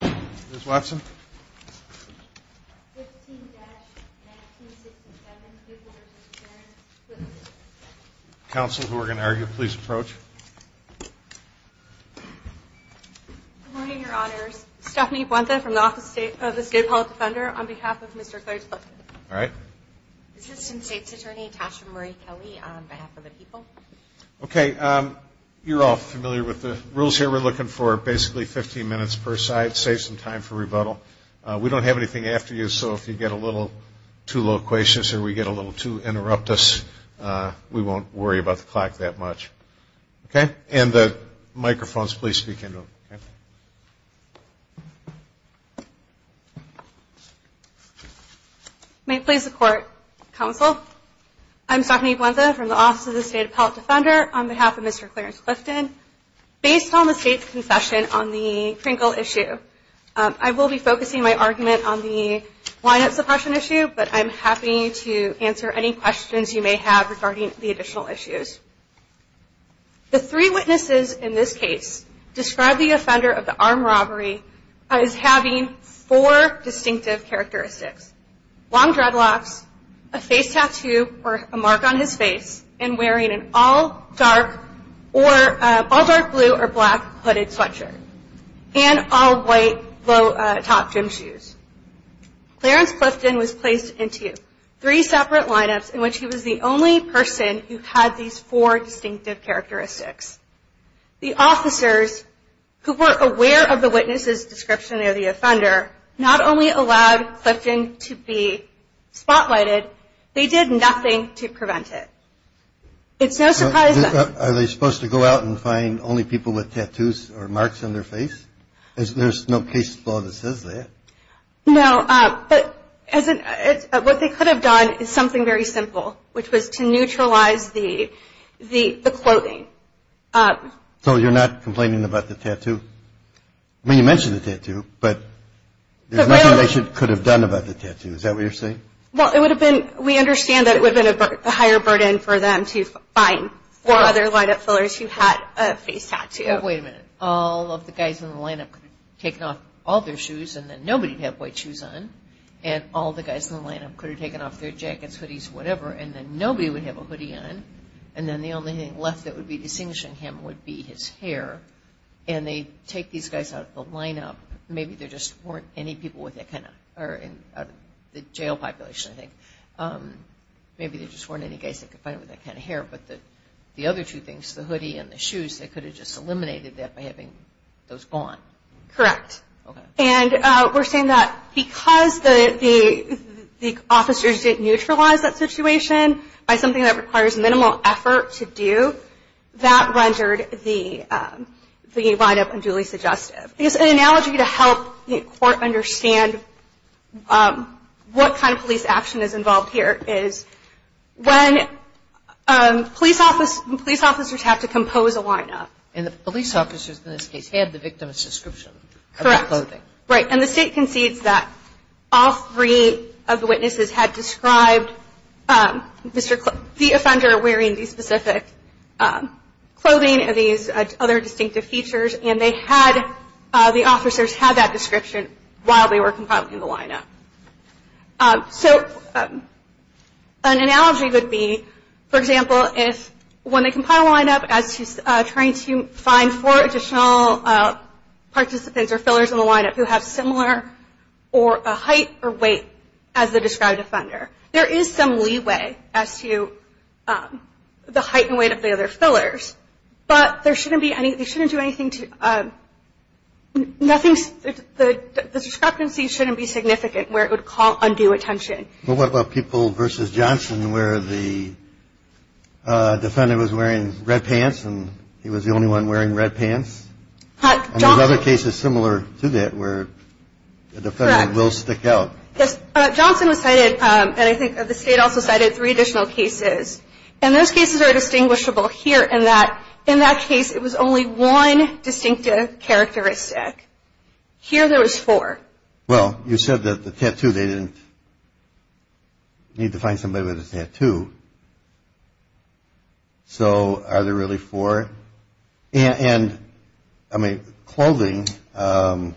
. Ms. Watson. 15-1967, People v. Clifton. Counsel, who are going to argue, please approach. Good morning, Your Honors. Stephanie Buenta from the State Department of Health and Human Services on behalf of Mr. Clifton. Assistant State's Attorney Tasha Marie Kelly on behalf of the people. Okay, you're all familiar with the rules here. We're looking for basically 15 minutes per We don't have anything after you, so if you get a little too loquacious or we get a little too interruptus, we won't worry about the clock that much. Okay? And the microphones, please speak into them, okay? May it please the Court, Counsel, I'm Stephanie Buenta from the Office of the State Appellate Defender on behalf of Mr. Clifton. Based on the State's confession on the Krinkle issue, I will be focusing my argument on the line-up suppression issue, but I'm happy to answer any questions you may have regarding the additional issues. The three witnesses in this case describe the offender of the armed robbery as having four distinctive characteristics. Long dreadlocks, a face tattoo or a mark on his face, and wearing an all-dark blue or black hooded sweatshirt, and all-white low-top gym shoes. Clarence Clifton was placed into three separate line-ups in which he was the only person who had these four distinctive characteristics. The officers, who were aware of the witness's description of the offender, not only allowed Clifton to be spotlighted, they did nothing to prevent it. It's no surprise that... Are they supposed to go out and find only people with tattoos or marks on their face? There's no case law that says that. No, but what they could have done is something very simple, which was to neutralize the clothing. So you're not complaining about the tattoo? I mean, you mentioned the tattoo, but there's nothing done about the tattoo. Is that what you're saying? Well, it would have been, we understand that it would have been a higher burden for them to find four other line-up fillers who had a face tattoo. Well, wait a minute. All of the guys in the line-up could have taken off all their shoes and then nobody would have white shoes on, and all the guys in the line-up could have taken off their jackets, hoodies, whatever, and then nobody would have a hoodie on, and then the only thing left that would be distinguishing him would be his hair, and they take these guys out of the line-up. Maybe there just weren't any people with that kind of, or in the jail population, I think, maybe there just weren't any guys that could find him with that kind of hair, but the other two things, the hoodie and the shoes, they could have just eliminated that by having those gone. Correct. And we're saying that because the officers didn't neutralize that situation by something that requires minimal effort to do, that rendered the line-up unduly suggestive. It's an analogy to help the court understand what kind of police action is involved here, is when police officers have to compose a line-up. And the police officers, in this case, had the victim's description of the clothing. Right. And the state concedes that all three of the witnesses had described the offender wearing the specific clothing, these other distinctive features, and they had, the officers had that description while they were compiling the line-up. So an analogy would be, for example, if when they compile a line-up as to trying to find four additional participants or fillers in the line-up who have similar height or weight as the described offender, there is some leeway as to the height and weight of the other fillers, but there shouldn't be any, they shouldn't do anything to, nothing, the discrepancy shouldn't be significant where it would call undue attention. Well, what about people versus Johnson where the defendant was wearing red pants and he was the only one wearing red pants? And there's other cases similar to that where the defendant will stick out. Correct. Yes. Johnson was cited, and I think the state also cited, three additional cases. And those cases are distinguishable here in that, in that case, it was only one distinctive characteristic. Here, there was four. Well, you said that the tattoo, they didn't need to find somebody with a tattoo. So are they really four? And, I mean, clothing, doesn't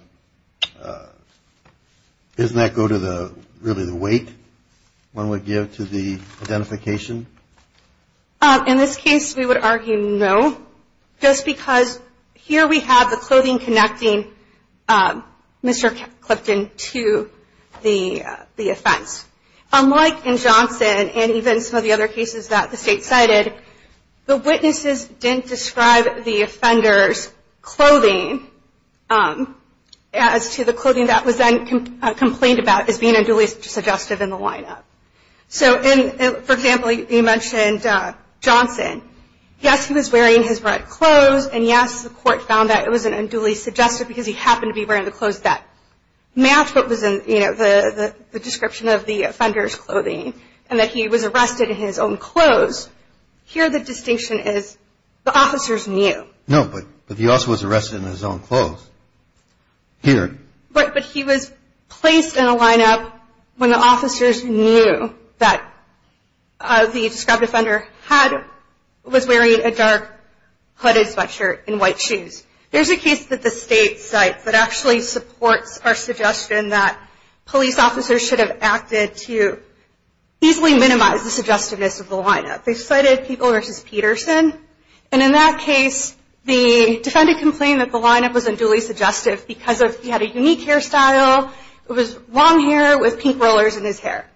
that go to the, really the weight one would give to the identification? In this case, we would argue no, just because here we have the clothing connecting Mr. Clifton to the offense. Unlike in Johnson and even some of the other cases that the state cited, the witnesses didn't describe the offender's clothing as to the clothing that was then complained about as being unduly suggestive in the lineup. So in, for example, you mentioned Johnson. Yes, he was wearing his red clothes, and yes, the court found that it was an unduly suggestive because he happened to be wearing the clothes that matched what was in, you know, the description of the offender's clothing, and that he was arrested in his own clothes. Here, the distinction is the officers knew. No, but he also was arrested in his own clothes. Here. Right, but he was placed in a lineup when the officers knew that the described offender had, was wearing a dark hooded sweatshirt and white shoes. There's a case that the state cites that actually supports our suggestion that police officers should have acted to easily minimize the suggestiveness of the lineup. They cited People v. Peterson, and in that case, the defendant complained that the lineup was unduly suggestive because he had a unique hairstyle. It was long hair with pink rollers in his hair.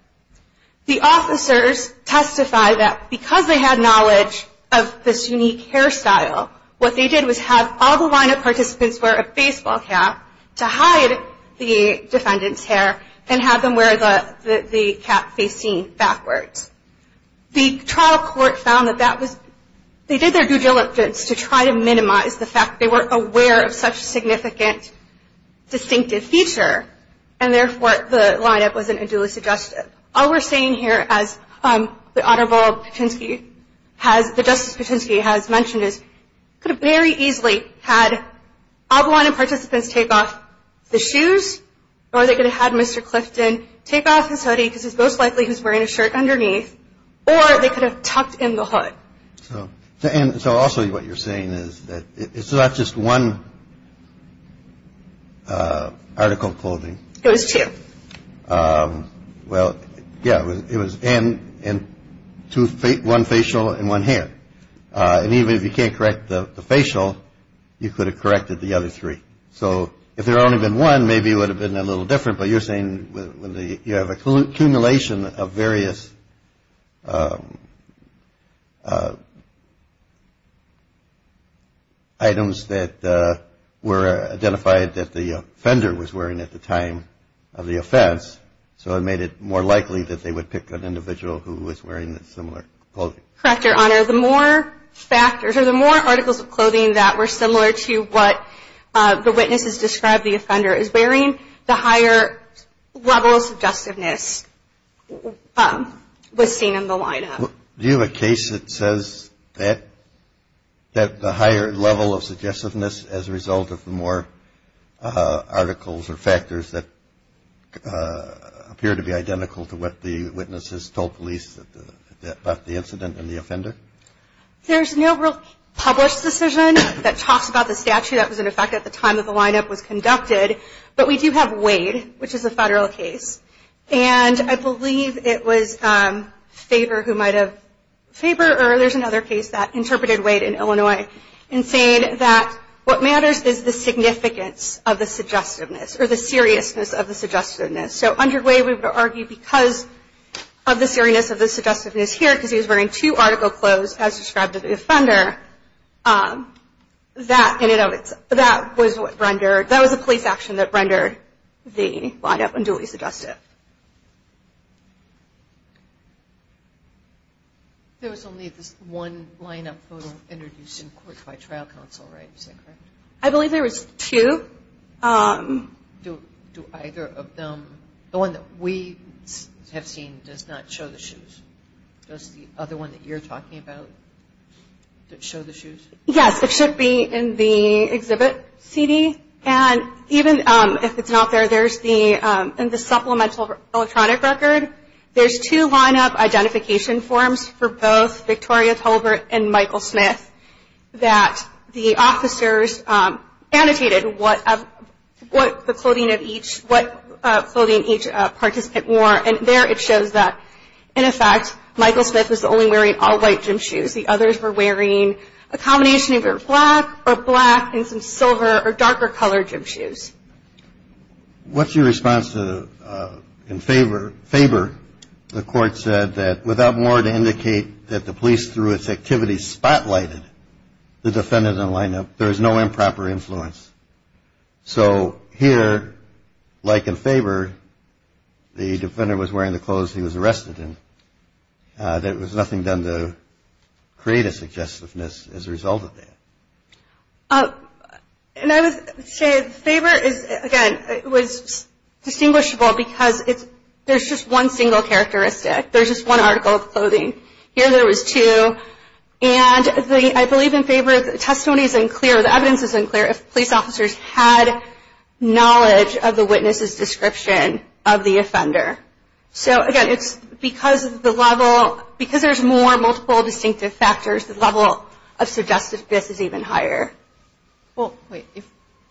The officers testified that because they had knowledge of this unique hairstyle, what they did was have all the lineup participants wear a baseball cap to hide the defendant's hair and have them wear the cap facing backwards. The trial court found that that was, they did their due diligence to try to minimize the fact that they weren't aware of such a significant distinctive feature, and therefore, the lineup wasn't unduly suggestive. All we're saying here, as the Honorable Patinsky has, the Justice Patinsky has mentioned, is he could have very easily had all the lineup participants take off the shoes, or they could have had Mr. Clifton take off his hoodie, because it's most likely he's wearing a shirt underneath, or they could have tucked in the hood. So, and so also what you're saying is that it's not just one article of clothing. It was two. Well, yeah, it was, and, and two, one facial and one hair. And even if you can't correct the facial, you could have corrected the other three. So if there had only been one, maybe it would have been a little different, but you're saying you have an accumulation of various items that were identified that the offender was wearing at the time of the offense, so it made it more likely that they would pick an individual who was wearing similar clothing. Correct, Your Honor. The more factors, or the more articles of clothing that were similar to what the witnesses described the offender as wearing, the higher level of suggestiveness was seen in the lineup. Do you have a case that says that, that the higher level of suggestiveness as a result of the more articles or factors that appear to be identical to what the witnesses told police about the incident and the offender? There's no real published decision that talks about the statute that was in effect at the time that the lineup was conducted, but we do have Wade, which is a federal case, and I believe it was Faber who might have, Faber, or there's another case that interpreted Wade in Illinois, in saying that what matters is the significance of the suggestiveness, or the seriousness of the suggestiveness. So under Wade, we would argue because of the article clothes as described to the offender, that was what rendered, that was a police action that rendered the lineup unduly suggestive. There was only this one lineup photo introduced in court by trial counsel, right? Is that correct? I believe there was two. Do either of them, the one that we have seen does not show the shoes? Does the other one that you're talking about show the shoes? Yes, it should be in the exhibit CD, and even if it's not there, there's the supplemental electronic record. There's two lineup identification forms for both Victoria Tolbert and Michael Smith that the officers annotated what clothing each participant wore, and there it shows that, in effect, Michael Smith was only wearing all white gym shoes. The others were wearing a combination of either black or black and some silver or darker colored gym shoes. What's your response to Faber? The court said that without more to indicate that the police through its activities spotlighted the defendant in the lineup, there is no improper influence. So here, like in Faber, the defendant was wearing the clothes he was arrested in. There was nothing done to create a suggestiveness as a result of that. And I would say Faber is, again, it was distinguishable because there's just one single characteristic. There's just one article of clothing. Here there was two, and I believe in Faber, the testimony is unclear, the evidence is unclear, if police officers had knowledge of the witness's description of the offender. So again, it's because of the level, because there's more multiple distinctive factors, the level of suggestiveness is even higher. Well,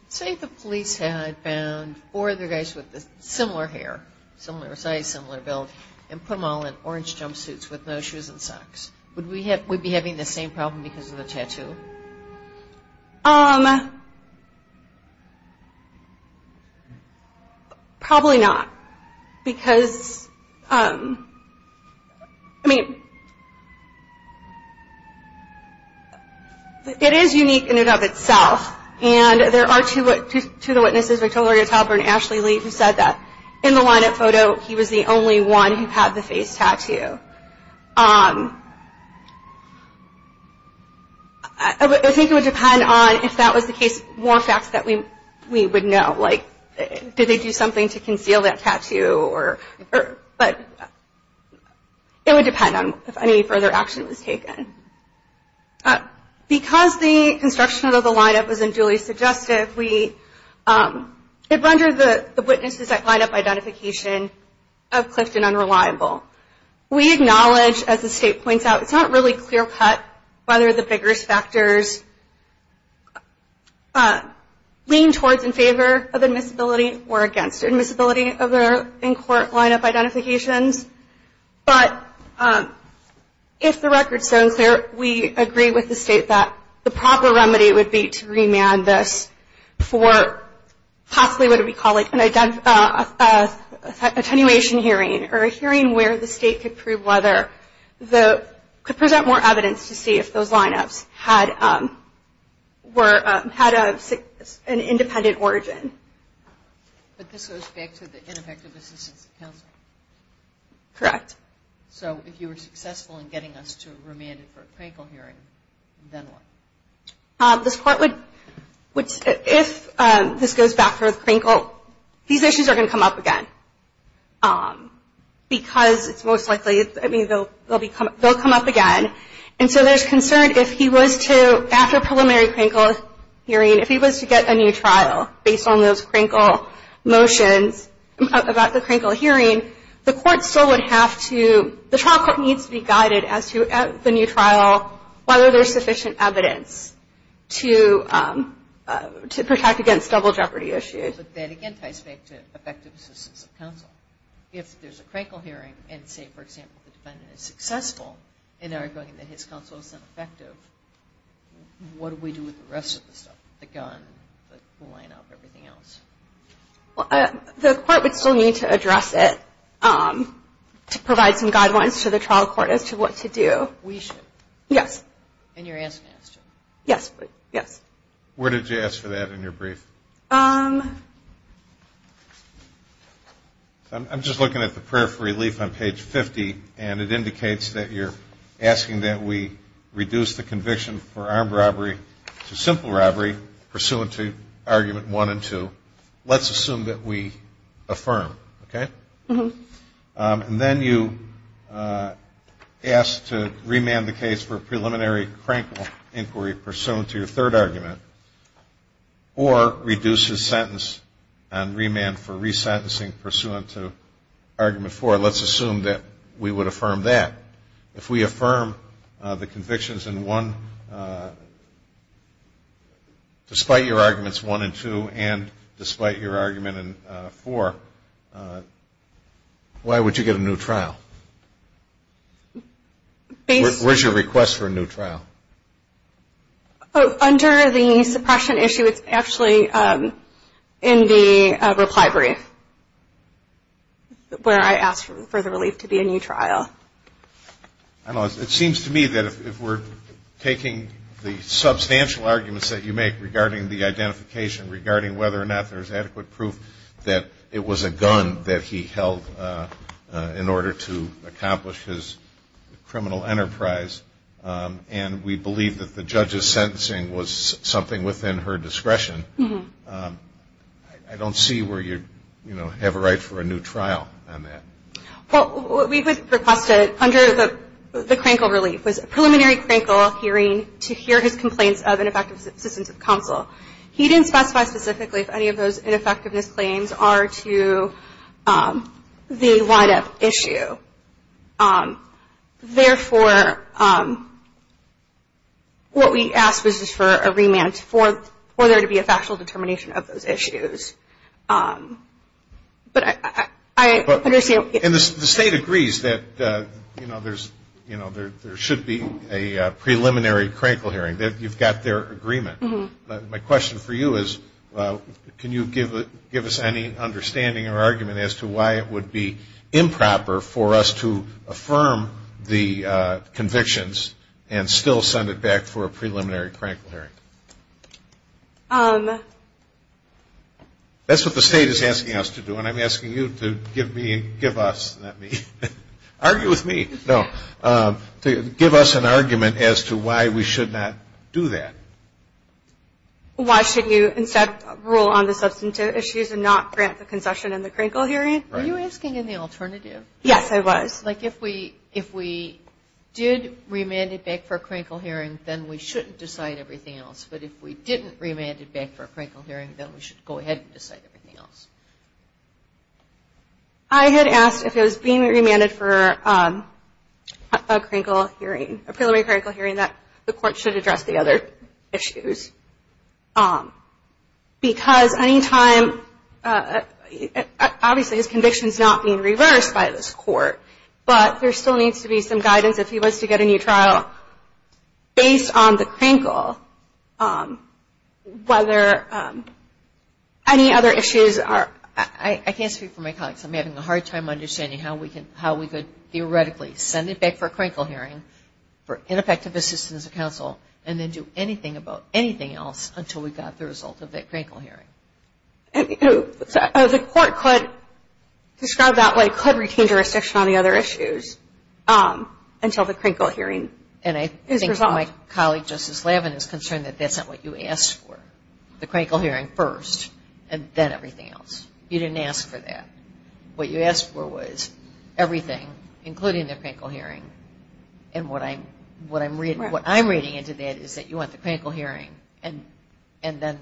say the police had found four other guys with similar hair, similar size, similar build, and put them all in orange jumpsuits with no shoes and socks. Would we be having the same problem because of the tattoo? Probably not, because, I mean, it is unique in and of itself, and there are two of the witnesses, Victoria Talbert and Ashley Lee, who said that in the lineup photo, he was the only one who had the face tattoo. I think it would depend on if that was the case, more facts that we would know, like did they do something to conceal that tattoo, but it would depend on if any further action was taken. Because the construction of the lineup was unduly suggestive, it rendered the witnesses' lineup identification of Clifton unreliable. We acknowledge, as the state points out, it's not really clear-cut whether the biggest factors lean towards in favor of admissibility or against admissibility of their in-court lineup identifications. But if the record stands there, we agree with the state that the proper remedy would be to remand this for possibly what we would call an attenuation hearing, or a hearing where the state could present more evidence to see if those lineups had an independent origin. But this goes back to the ineffective assistance of counsel? Correct. So if you were successful in getting us to remand it for a Crankle hearing, then what? This Court would, if this goes back to Crankle, these issues are going to come up again. Because it's most likely, they'll come up again. And so there's concern if he was to, after preliminary Crankle hearing, if he was to get a new trial based on those Crankle motions about the Crankle hearing, the Court still would have to, the trial court needs to be guided as to, at the new trial, whether there's sufficient evidence to protect against double jeopardy issues. But that again ties back to effective assistance of counsel. If there's a Crankle hearing, and say, for example, the defendant is successful in arguing that his counsel is ineffective, what do we do with the rest of the stuff? The gun, the lineup, everything else? Well, the Court would still need to address it to provide some guidelines to the trial court as to what to do. We should. Yes. And you're asking us to. Yes. Yes. Where did you ask for that in your brief? I'm just looking at the prayer for relief on page 50, and it indicates that you're asking that we reduce the conviction for armed robbery to simple robbery pursuant to argument one and two. Let's assume that we affirm. Okay? Mm-hmm. And then you ask to remand the case for preliminary Crankle inquiry pursuant to your third argument, or reduce his sentence on remand for resentencing pursuant to argument four. Let's assume that we would affirm that. If we affirm the convictions in one, despite your arguments one and two, and despite your argument in four, why would you get a new trial? Where's your request for a new trial? Under the suppression issue, it's actually in the reply brief where I asked for the relief to be a new trial. It seems to me that if we're taking the substantial arguments that you make regarding the identification, regarding whether or not there's adequate proof that it was a gun that he held in order to accomplish his criminal enterprise, and we believe that the judge's sentencing was something within her discretion, I don't see where you'd have a right for a new trial on that. Well, we would request it under the Crankle relief. It was a preliminary Crankle hearing to hear his complaints of ineffective assistance of counsel. He didn't specify specifically if any of those ineffectiveness claims are to the wind-up issue. Therefore, what we ask is for a remand for there to be a factual determination of those issues. But I understand what you're saying. And the state agrees that there should be a preliminary Crankle hearing. You've got their agreement. My question for you is, can you give us any understanding or argument as to why it would be improper for us to affirm the convictions and still send it back for a preliminary Crankle hearing? That's what the state is asking us to do. When I'm asking you to give me and give us, not me, argue with me. No. Give us an argument as to why we should not do that. Why should you instead rule on the substantive issues and not grant the concession in the Crankle hearing? Were you asking in the alternative? Yes, I was. Like, if we did remand it back for a Crankle hearing, then we shouldn't decide everything else. But if we didn't remand it back for a Crankle hearing, then we should go ahead and decide everything else. I had asked if it was being remanded for a Crankle hearing, a preliminary Crankle hearing, that the court should address the other issues. Because any time, obviously his conviction is not being reversed by this court, but there still needs to be some guidance if he wants to get a new trial. Based on the Crankle, whether any other issues are... I can't speak for my colleagues. I'm having a hard time understanding how we could theoretically send it back for a Crankle hearing for ineffective assistance of counsel, and then do anything about anything else until we got the result of that Crankle hearing. The court could, described that way, could retain jurisdiction on the other issues until the Crankle hearing is resolved. And I think my colleague, Justice Lavin, is concerned that that's not what you asked for, the Crankle hearing first, and then everything else. You didn't ask for that. What you asked for was everything, including the Crankle hearing. And what I'm reading into that is that you want the Crankle hearing, and then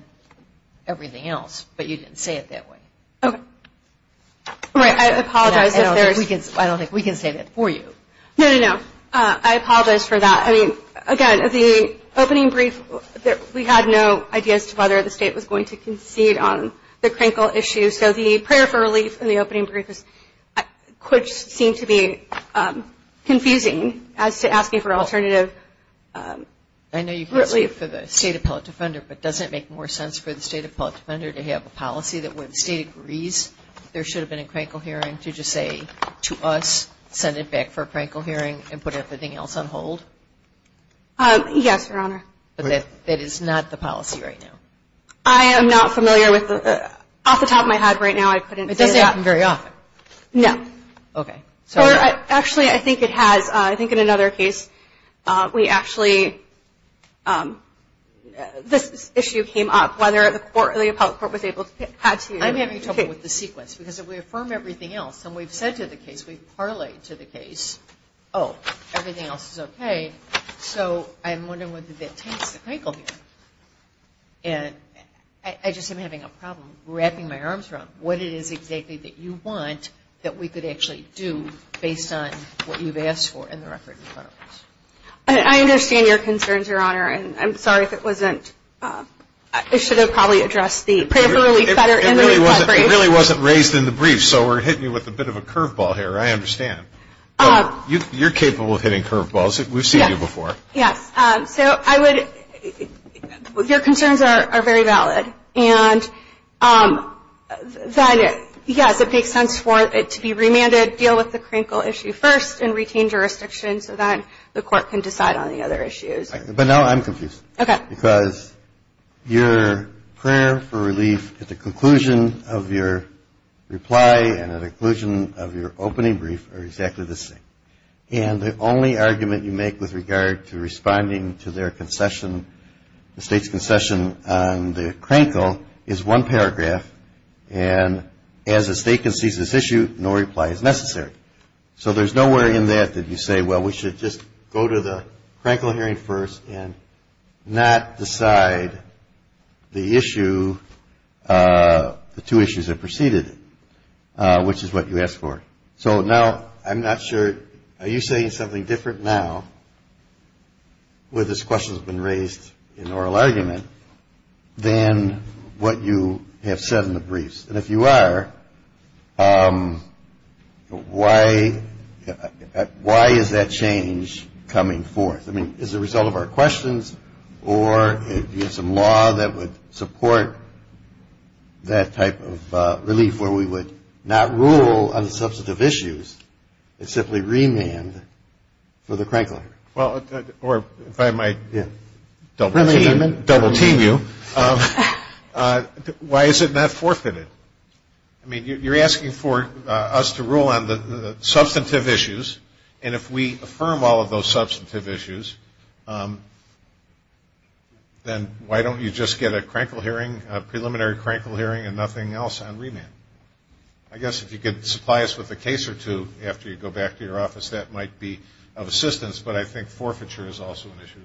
everything else, but you didn't say it that way. Okay. I apologize if there's... I don't think we can say that for you. No, no, no. I apologize for that. I mean, again, the opening brief, we had no idea as to whether the state was going to concede on the Crankle issue. So the prayer for relief in the opening brief seemed to be confusing as to asking for alternative relief. I know you can't speak for the State Appellate Defender, but does it make more sense for the State Appellate Defender to have a policy that when the State agrees, there should have been a Crankle hearing to just say to us, send it back for a Crankle hearing and put everything else on hold? Yes, Your Honor. But that is not the policy right now? I am not familiar with the... Off the top of my head right now, I couldn't say that. It doesn't happen very often. No. Okay. Actually, I think it has... I think in another case, we actually... This issue came up, whether the public court was able to... I'm having trouble with the sequence because if we affirm everything else, and we've said to the case, we've parlayed to the case, oh, everything else is okay. So I'm wondering whether that takes the Crankle hearing. And I just am having a problem wrapping my arms around what it is exactly that you want that we could actually do based on what you've asked for in the record in front of us. I understand your concerns, Your Honor. And I'm sorry if it wasn't... I should have probably addressed the... It really wasn't raised in the brief, so we're hitting you with a bit of a curveball here. I understand. You're capable of hitting curveballs. We've seen you before. Yes. So I would... Your concerns are very valid. And that, yes, it makes sense for it to be remanded, deal with the Crankle issue first, and retain jurisdiction so that the court can decide on the other issues. But now I'm confused. Okay. Because your prayer for relief at the conclusion of your reply and at the conclusion of your opening brief are exactly the same. And the only argument you make with regard to responding to their concession, the State's concession on the Crankle, is one paragraph, and as the State concedes this issue, no reply is necessary. So there's nowhere in that that you say, well, we should just go to the Crankle hearing first and not decide the issue, the two issues that preceded it, which is what you asked for. So now I'm not sure... argument than what you have said in the briefs. And if you are, why is that change coming forth? I mean, is it a result of our questions or do you have some law that would support that type of relief where we would not rule on the substantive issues and simply remand for the Crankle hearing? Well, if I might double-team you, why is it not forfeited? I mean, you're asking for us to rule on the substantive issues, and if we affirm all of those substantive issues, then why don't you just get a Crankle hearing, a preliminary Crankle hearing, and nothing else on remand? I guess if you could supply us with a case or two after you go back to your office, that might be of assistance, but I think forfeiture is also an issue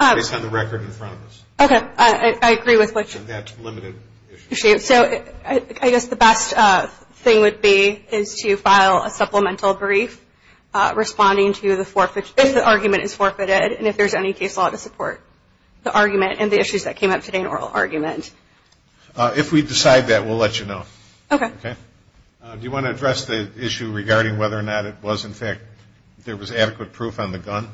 here, based on the record in front of us. Okay, I agree with what you're saying. So I guess the best thing would be is to file a supplemental brief responding to the forfeiture, if the argument is forfeited, and if there's any case law to support the argument and the issues that came up today in oral argument. If we decide that, we'll let you know. Okay. Do you want to address the issue regarding whether or not it was, in fact, there was adequate proof on the gun?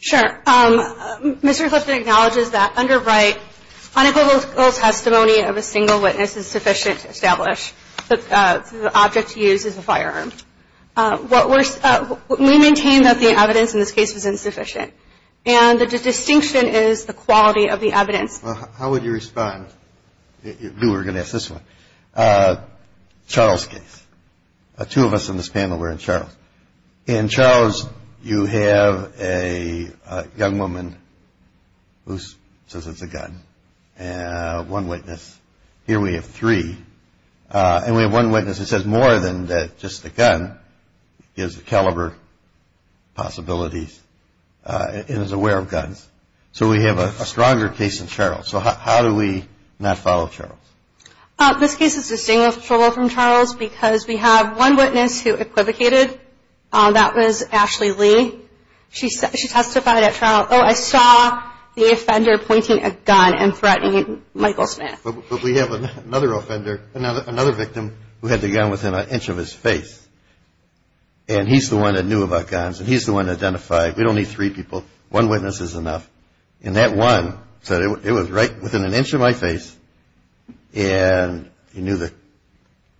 Sure. Mr. Clifton acknowledges that under Wright, unequivocal testimony of a single witness is sufficient to establish that the object used is a firearm. We maintain that the evidence in this case was insufficient, and the distinction is the quality of the evidence. Well, how would you respond? We were going to ask this one. Charles case. Two of us in this panel were in Charles. In Charles, you have a young woman who says it's a gun, one witness. Here we have three. And we have one witness who says more than just a gun, gives a caliber, possibilities, and is aware of guns. So we have a stronger case in Charles. So how do we not follow Charles? This case is distinct from Charles because we have one witness who equivocated. That was Ashley Lee. She testified at Charles, oh, I saw the offender pointing a gun and threatening Michael Smith. But we have another offender, another victim, who had the gun within an inch of his face. And he's the one that knew about guns, and he's the one that identified. We don't need three people. One witness is enough. And that one said it was right within an inch of my face. And he knew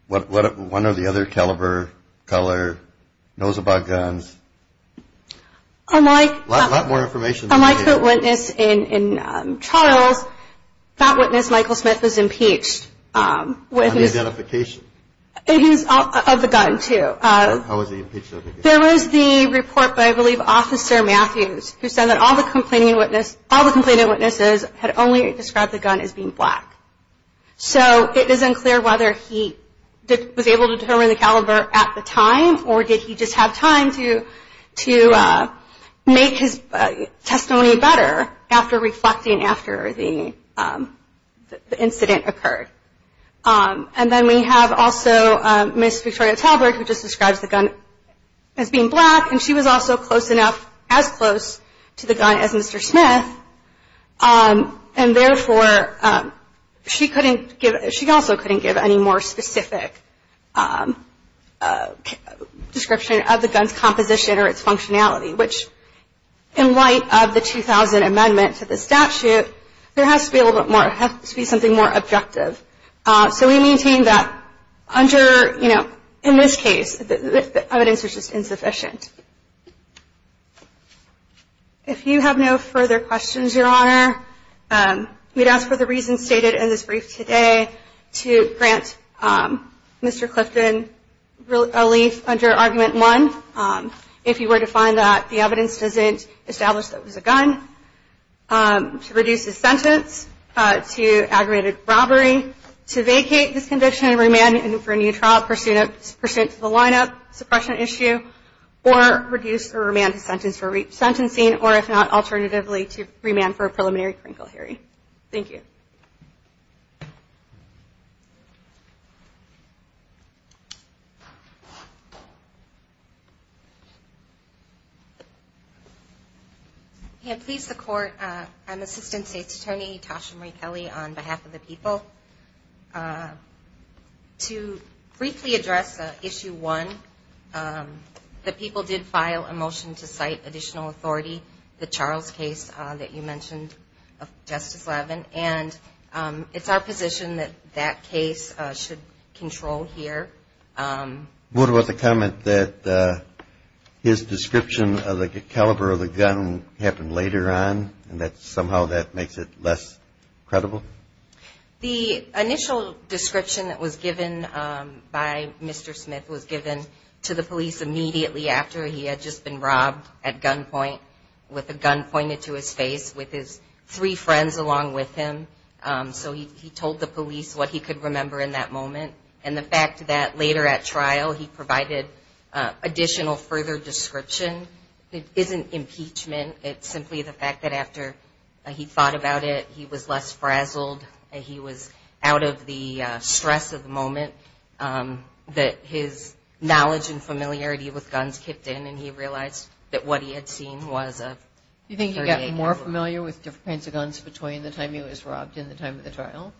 one or the other caliber, color, knows about guns. A lot more information. Unlike the witness in Charles, that witness, Michael Smith, was impeached. On the identification? Of the gun, too. How was he impeached? There was the report by, I believe, Officer Matthews, who said that all the complaining witnesses had only described the gun as being black. So it isn't clear whether he was able to determine the caliber at the time or did he just have time to make his testimony better after reflecting after the incident occurred. And then we have also Ms. Victoria Talbert, who just describes the gun as being black, and she was also close enough, as close to the gun as Mr. Smith. And therefore, she also couldn't give any more specific description of the gun's composition or its functionality, which in light of the 2000 amendment to the statute, there has to be something more objective. So we maintain that under, you know, in this case, the evidence is just insufficient. If you have no further questions, Your Honor, we'd ask for the reasons stated in this brief today to grant Mr. Clifton relief under Argument 1. If you were to find that the evidence doesn't establish that it was a gun, to reduce his sentence to aggravated robbery, to vacate this conviction, remand him for a new trial pursuant to the lineup suppression issue, or reduce or remand his sentence for sentencing, or if not, alternatively, to remand for a preliminary crinkle hearing. Thank you. Yeah, please, the Court. I'm Assistant State's Attorney Tasha Marie Kelly on behalf of the people. To briefly address Issue 1, the people did file a motion to cite additional authority, the Charles case that you mentioned, Justice Levin, and it's our position that that case should control here. What about the comment that his description of the caliber of the gun happened later on, and that somehow that makes it less credible? The initial description that was given by Mr. Smith was given to the police immediately after he had just been robbed at gunpoint, with a gun pointed to his face, with his three friends along with him. So he told the police what he could remember in that moment, and the fact that later at trial he provided additional further description isn't impeachment, it's simply the fact that after he thought about it, he was less frazzled, he was out of the stress of the moment, that his knowledge and familiarity with guns kicked in, and he realized that what he had seen was a 38 caliber. Do you think he got more familiar with different kinds of guns between the time he was robbed and the time of the trial?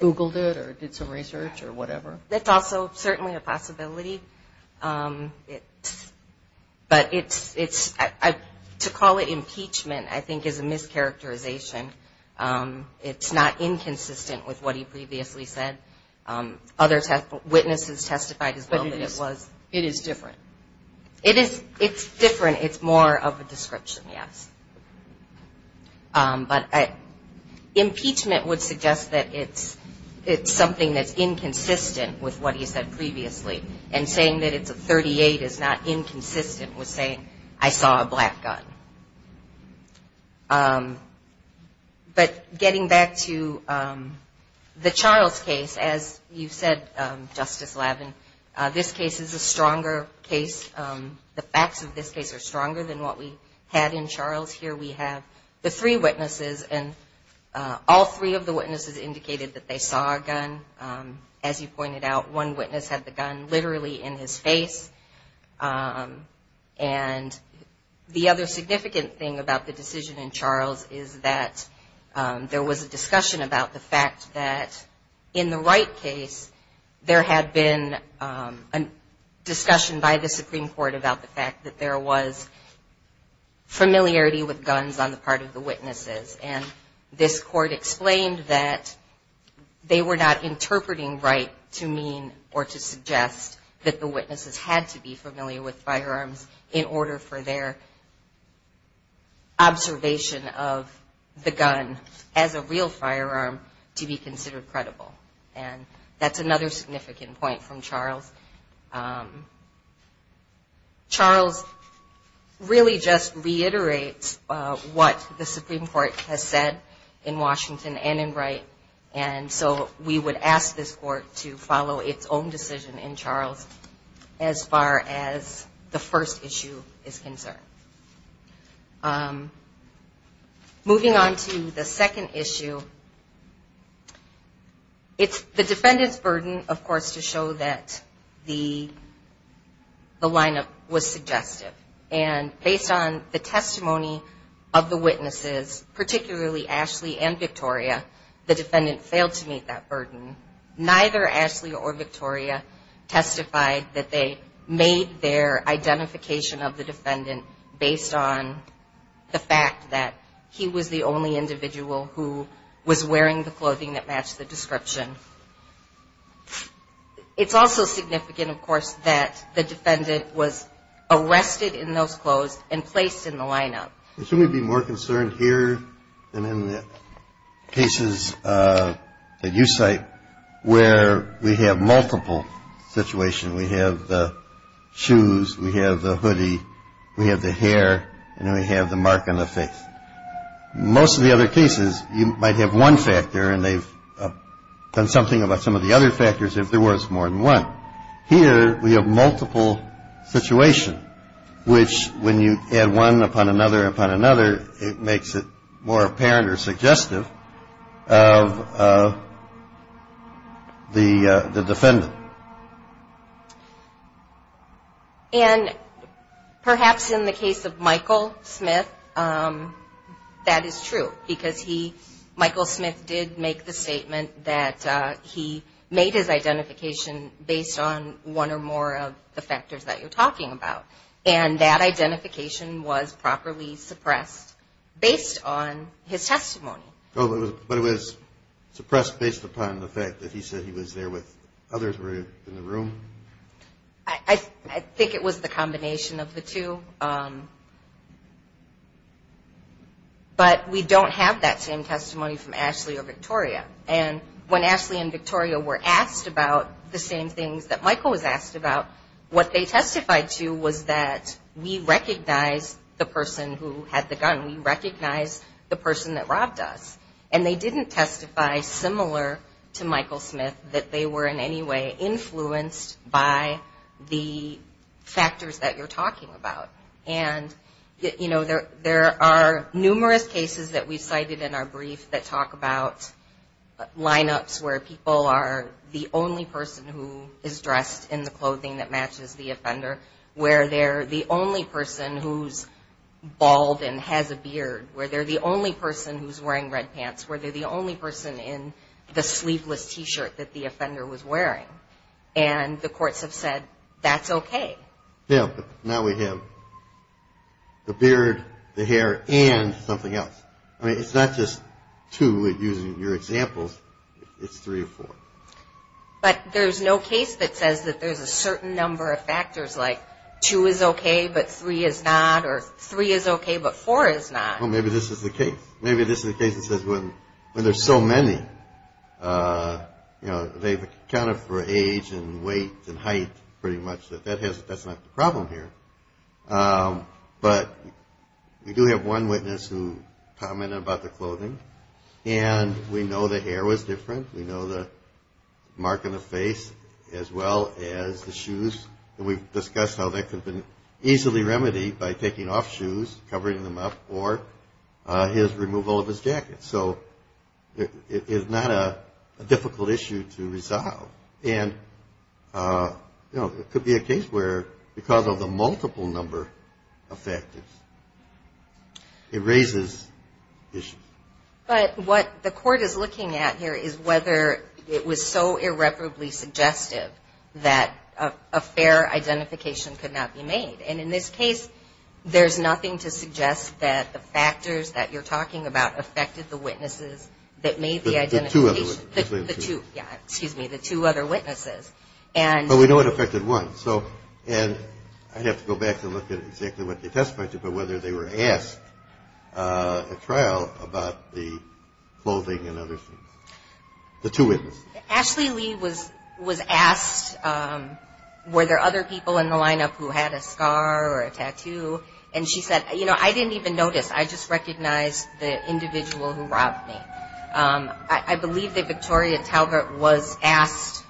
Googled it or did some research or whatever? That's also certainly a possibility, but to call it impeachment I think is a mischaracterization. It's not inconsistent with what he previously said. Other witnesses testified as well that it was. But it is different. It's different. It's more of a description, yes. But impeachment would suggest that it's something that's inconsistent with what he said previously, and saying that it's a 38 is not inconsistent with saying, I saw a black gun. But getting back to the Charles case, as you said, Justice Lavin, this case is a stronger case. The facts of this case are stronger than what we had in Charles. Here we have the three witnesses, and all three of the witnesses indicated that they saw a gun. As you pointed out, one witness had the gun literally in his face. And the other significant thing about the decision in Charles is that there was a discussion about the fact that, in the Wright case, there had been a discussion by the Supreme Court about the fact that there was familiarity with guns on the part of the witnesses. And this court explained that they were not interpreting Wright to mean or to suggest that the witnesses had to be familiar with firearms in order for their observation of the gun as a real firearm to be considered credible. And that's another significant point from Charles. Charles really just reiterates what the Supreme Court has said in Washington and in Wright. And so we would ask this court to follow its own decision in Charles as far as the first issue is concerned. Moving on to the second issue, it's the defendant's burden, of course, to show that the lineup was suggestive. And based on the testimony of the witnesses, particularly Ashley and Victoria, the defendant failed to meet that burden. Neither Ashley or Victoria testified that they made their identification of the defendant based on the fact that he was the only individual who was wearing the clothing that matched the description. It's also significant, of course, that the defendant was arrested in those clothes and placed in the lineup. Shouldn't we be more concerned here than in the cases that you cite where we have multiple situations? We have the shoes. We have the hoodie. We have the hair. And we have the mark on the face. Most of the other cases, you might have one factor, and they've done something about some of the other factors if there was more than one. Here, we have multiple situations, which when you add one upon another upon another, it makes it more apparent or suggestive of the defendant. And perhaps in the case of Michael Smith, that is true, because he, Michael Smith, did make the statement that he made his identification based on one or more of the factors that you're talking about. And that identification was properly suppressed based on his testimony. But it was suppressed based upon the fact that he said he was there with others who were in the room? I think it was the combination of the two. But we don't have that same testimony from Ashley or Victoria. And when Ashley and Victoria were asked about the same things that Michael was asked about, what they testified to was that we recognize the person who had the gun. We recognize the person that robbed us. And they didn't testify similar to Michael Smith that they were in any way influenced by the factors that you're talking about. And, you know, there are numerous cases that we've cited in our brief that talk about lineups where people are the only person who is dressed in the clothing that matches the offender, where they're the only person who's bald and has a beard, where they're the only person who's wearing red pants, where they're the only person in the sleeveless T-shirt that the offender was wearing. And the courts have said that's okay. Yeah, but now we have the beard, the hair, and something else. I mean, it's not just two using your examples. It's three or four. But there's no case that says that there's a certain number of factors, like two is okay but three is not or three is okay but four is not. Well, maybe this is the case. Maybe this is the case that says when there's so many, you know, they've accounted for age and weight and height pretty much that that's not the problem here. But we do have one witness who commented about the clothing. And we know the hair was different. We know the mark on the face as well as the shoes. And we've discussed how that could have been easily remedied by taking off shoes, covering them up, or his removal of his jacket. So it's not a difficult issue to resolve. And, you know, it could be a case where because of the multiple number of factors, it raises issues. But what the court is looking at here is whether it was so irreparably suggestive that a fair identification could not be made. And in this case, there's nothing to suggest that the factors that you're talking about affected the witnesses that made the identification. The two other witnesses. Yeah, excuse me, the two other witnesses. But we know it affected one. And I'd have to go back and look at exactly what they testified to, but whether they were asked at trial about the clothing and other things, the two witnesses. Ashley Lee was asked were there other people in the lineup who had a scar or a tattoo. And she said, you know, I didn't even notice. I just recognized the individual who robbed me. I believe that Victoria Talbert was asked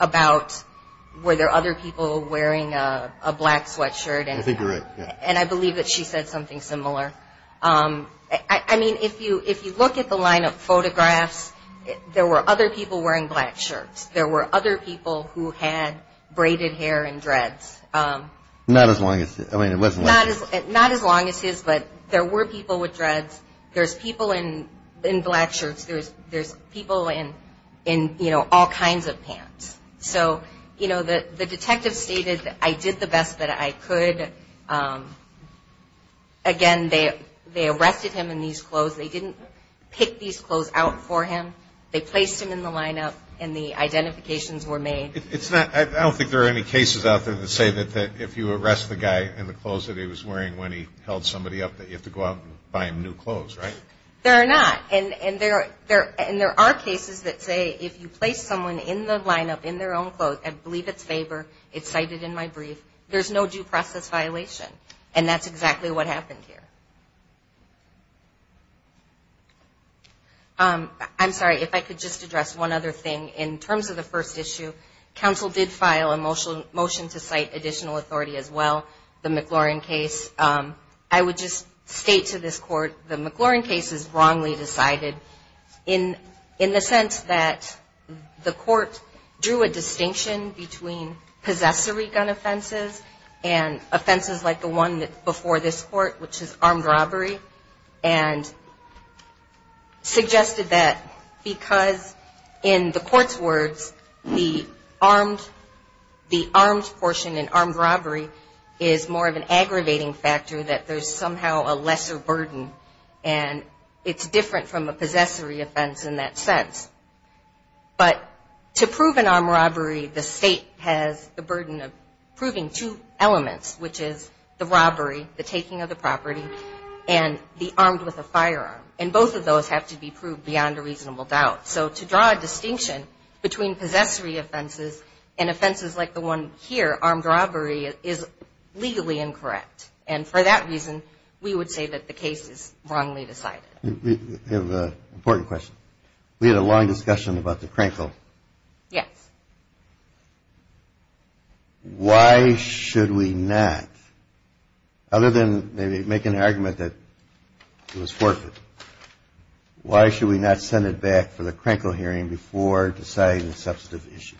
about were there other people wearing a black sweatshirt. I think you're right. And I believe that she said something similar. I mean, if you look at the lineup photographs, there were other people wearing black shirts. There were other people who had braided hair and dreads. Not as long as his. Not as long as his, but there were people with dreads. There's people in black shirts. There's people in, you know, all kinds of pants. So, you know, the detective stated I did the best that I could. Again, they arrested him in these clothes. They didn't pick these clothes out for him. They placed him in the lineup, and the identifications were made. I don't think there are any cases out there that say that if you arrest the guy in the clothes that he was wearing when he held somebody up that you have to go out and buy him new clothes, right? There are not. And there are cases that say if you place someone in the lineup in their own clothes, I believe it's favor. It's cited in my brief. There's no due process violation, and that's exactly what happened here. I'm sorry, if I could just address one other thing. In terms of the first issue, counsel did file a motion to cite additional authority as well, the McLaurin case. I would just state to this court the McLaurin case is wrongly decided in the sense that the court drew a distinction between possessory gun offenses and offenses like the one before this court, which is armed robbery, and suggested that because in the court's words, the armed portion in armed robbery is more of an aggravating factor that there's somehow a lesser burden, and it's different from a possessory offense in that sense. But to prove an armed robbery, the state has the burden of proving two elements, which is the robbery, the taking of the property, and the armed with a firearm. And both of those have to be proved beyond a reasonable doubt. So to draw a distinction between possessory offenses and offenses like the one here, armed robbery, is legally incorrect. And for that reason, we would say that the case is wrongly decided. We have an important question. We had a long discussion about the Krenkel. Yes. Why should we not, other than maybe make an argument that it was forfeit, why should we not send it back for the Krenkel hearing before deciding the substantive issues?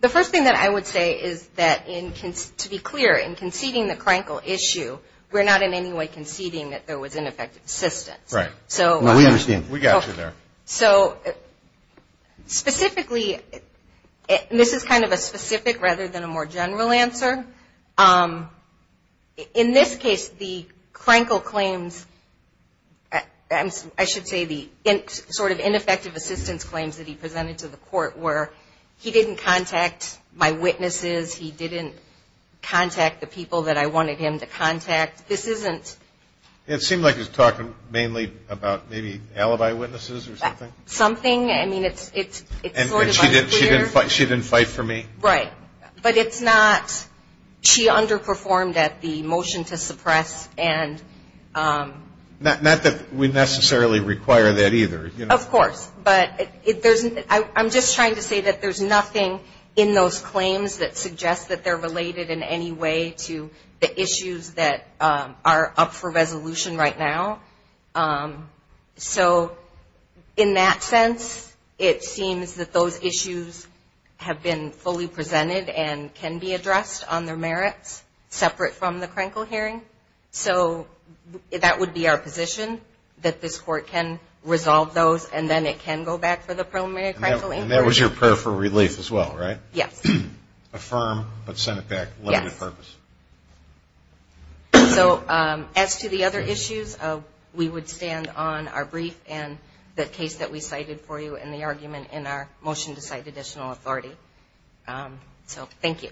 The first thing that I would say is that to be clear, in conceding the Krenkel issue, we're not in any way conceding that there was ineffective assistance. Right. No, we understand. We got you there. So specifically, and this is kind of a specific rather than a more general answer. In this case, the Krenkel claims, I should say the sort of ineffective assistance claims that he presented to the court were he didn't contact my witnesses, he didn't contact the people that I wanted him to contact. This isn't. It seemed like he was talking mainly about maybe alibi witnesses or something. Something. I mean, it's sort of unclear. And she didn't fight for me? Right. But it's not, she underperformed at the motion to suppress and... Not that we necessarily require that either. Of course. But I'm just trying to say that there's nothing in those claims that suggests that they're related in any way to the issues that are up for resolution right now. So in that sense, it seems that those issues have been fully presented and can be addressed on their merits separate from the Krenkel hearing. So that would be our position, that this court can resolve those and then it can go back for the preliminary Krenkel inquiry. And that was your prayer for relief as well, right? Yes. Affirm but send it back later with purpose. Yes. So as to the other issues, we would stand on our brief and the case that we cited for you and the argument in our motion to cite additional authority. So thank you.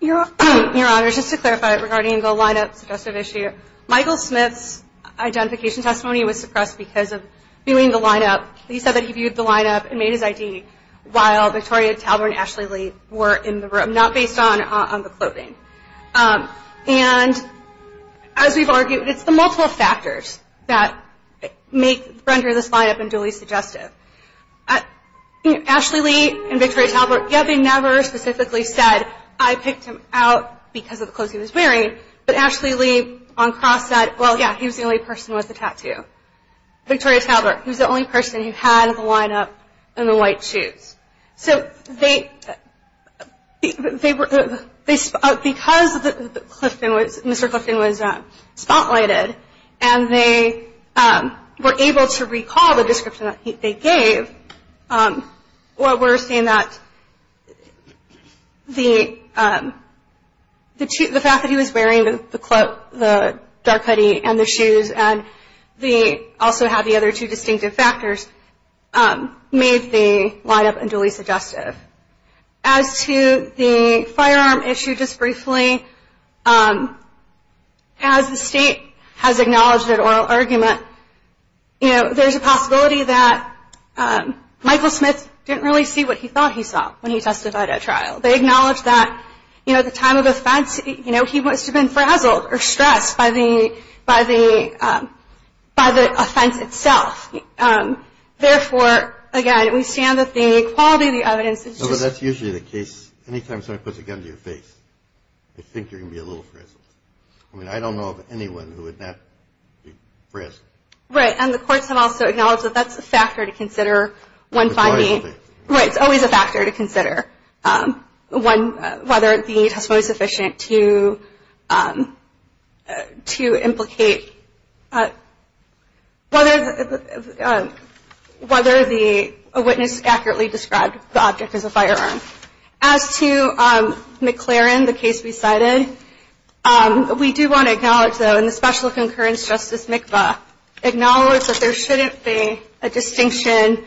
Your Honor, just to clarify regarding the line-up suggestive issue, Michael Smith's identification testimony was suppressed because of viewing the line-up. He said that he viewed the line-up and made his ID while Victoria Talbert and Ashley Lee were in the room, not based on the clothing. And as we've argued, it's the multiple factors that render this line-up unduly suggestive. Ashley Lee and Victoria Talbert, they never specifically said, I picked him out because of the clothes he was wearing. But Ashley Lee on cross said, well, yeah, he was the only person with a tattoo. Victoria Talbert, he was the only person who had the line-up and the white shoes. So because Mr. Clifton was spotlighted and they were able to recall the description that they gave, we're saying that the fact that he was wearing the dark hoodie and the shoes and also had the other two distinctive factors made the line-up unduly suggestive. As to the firearm issue, just briefly, as the State has acknowledged that oral argument, there's a possibility that Michael Smith didn't really see what he thought he saw when he testified at trial. They acknowledge that, you know, at the time of offense, you know, he must have been frazzled or stressed by the offense itself. Therefore, again, we stand that the quality of the evidence is just… No, but that's usually the case. Anytime someone puts a gun to your face, they think you're going to be a little frazzled. I mean, I don't know of anyone who would not be frazzled. Right, and the courts have also acknowledged that that's a factor to consider when finding… It's always a factor to consider whether the testimony is sufficient to implicate… whether the witness accurately described the object as a firearm. As to McLaren, the case we cited, we do want to acknowledge, though, and the Special Concurrence Justice McBeth acknowledges that there shouldn't be a distinction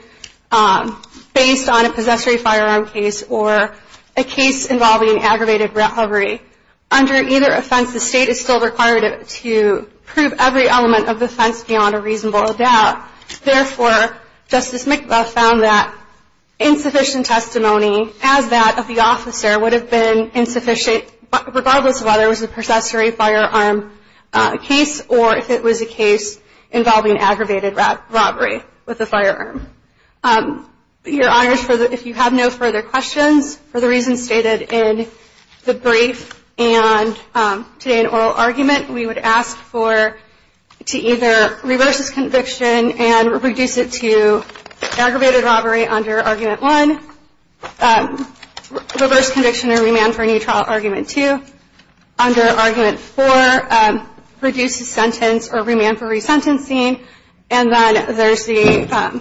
based on a possessory firearm case or a case involving aggravated robbery. Under either offense, the State is still required to prove every element of the offense beyond a reasonable doubt. Therefore, Justice McBeth found that insufficient testimony, as that of the officer, would have been insufficient regardless of whether it was a possessory firearm case or if it was a case involving aggravated robbery with a firearm. Your Honors, if you have no further questions, for the reasons stated in the brief and today in oral argument, we would ask to either reverse this conviction and reduce it to aggravated robbery under Argument 1, reverse conviction or remand for a new trial, Argument 2, under Argument 4, reduce the sentence or remand for resentencing, and then there's the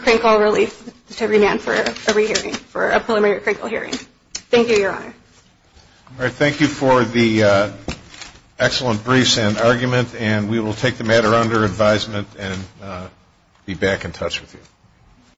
crinkle relief to remand for a rehearing, for a preliminary crinkle hearing. Thank you, Your Honor. All right, thank you for the excellent briefs and argument, and we will take the matter under advisement and be back in touch with you.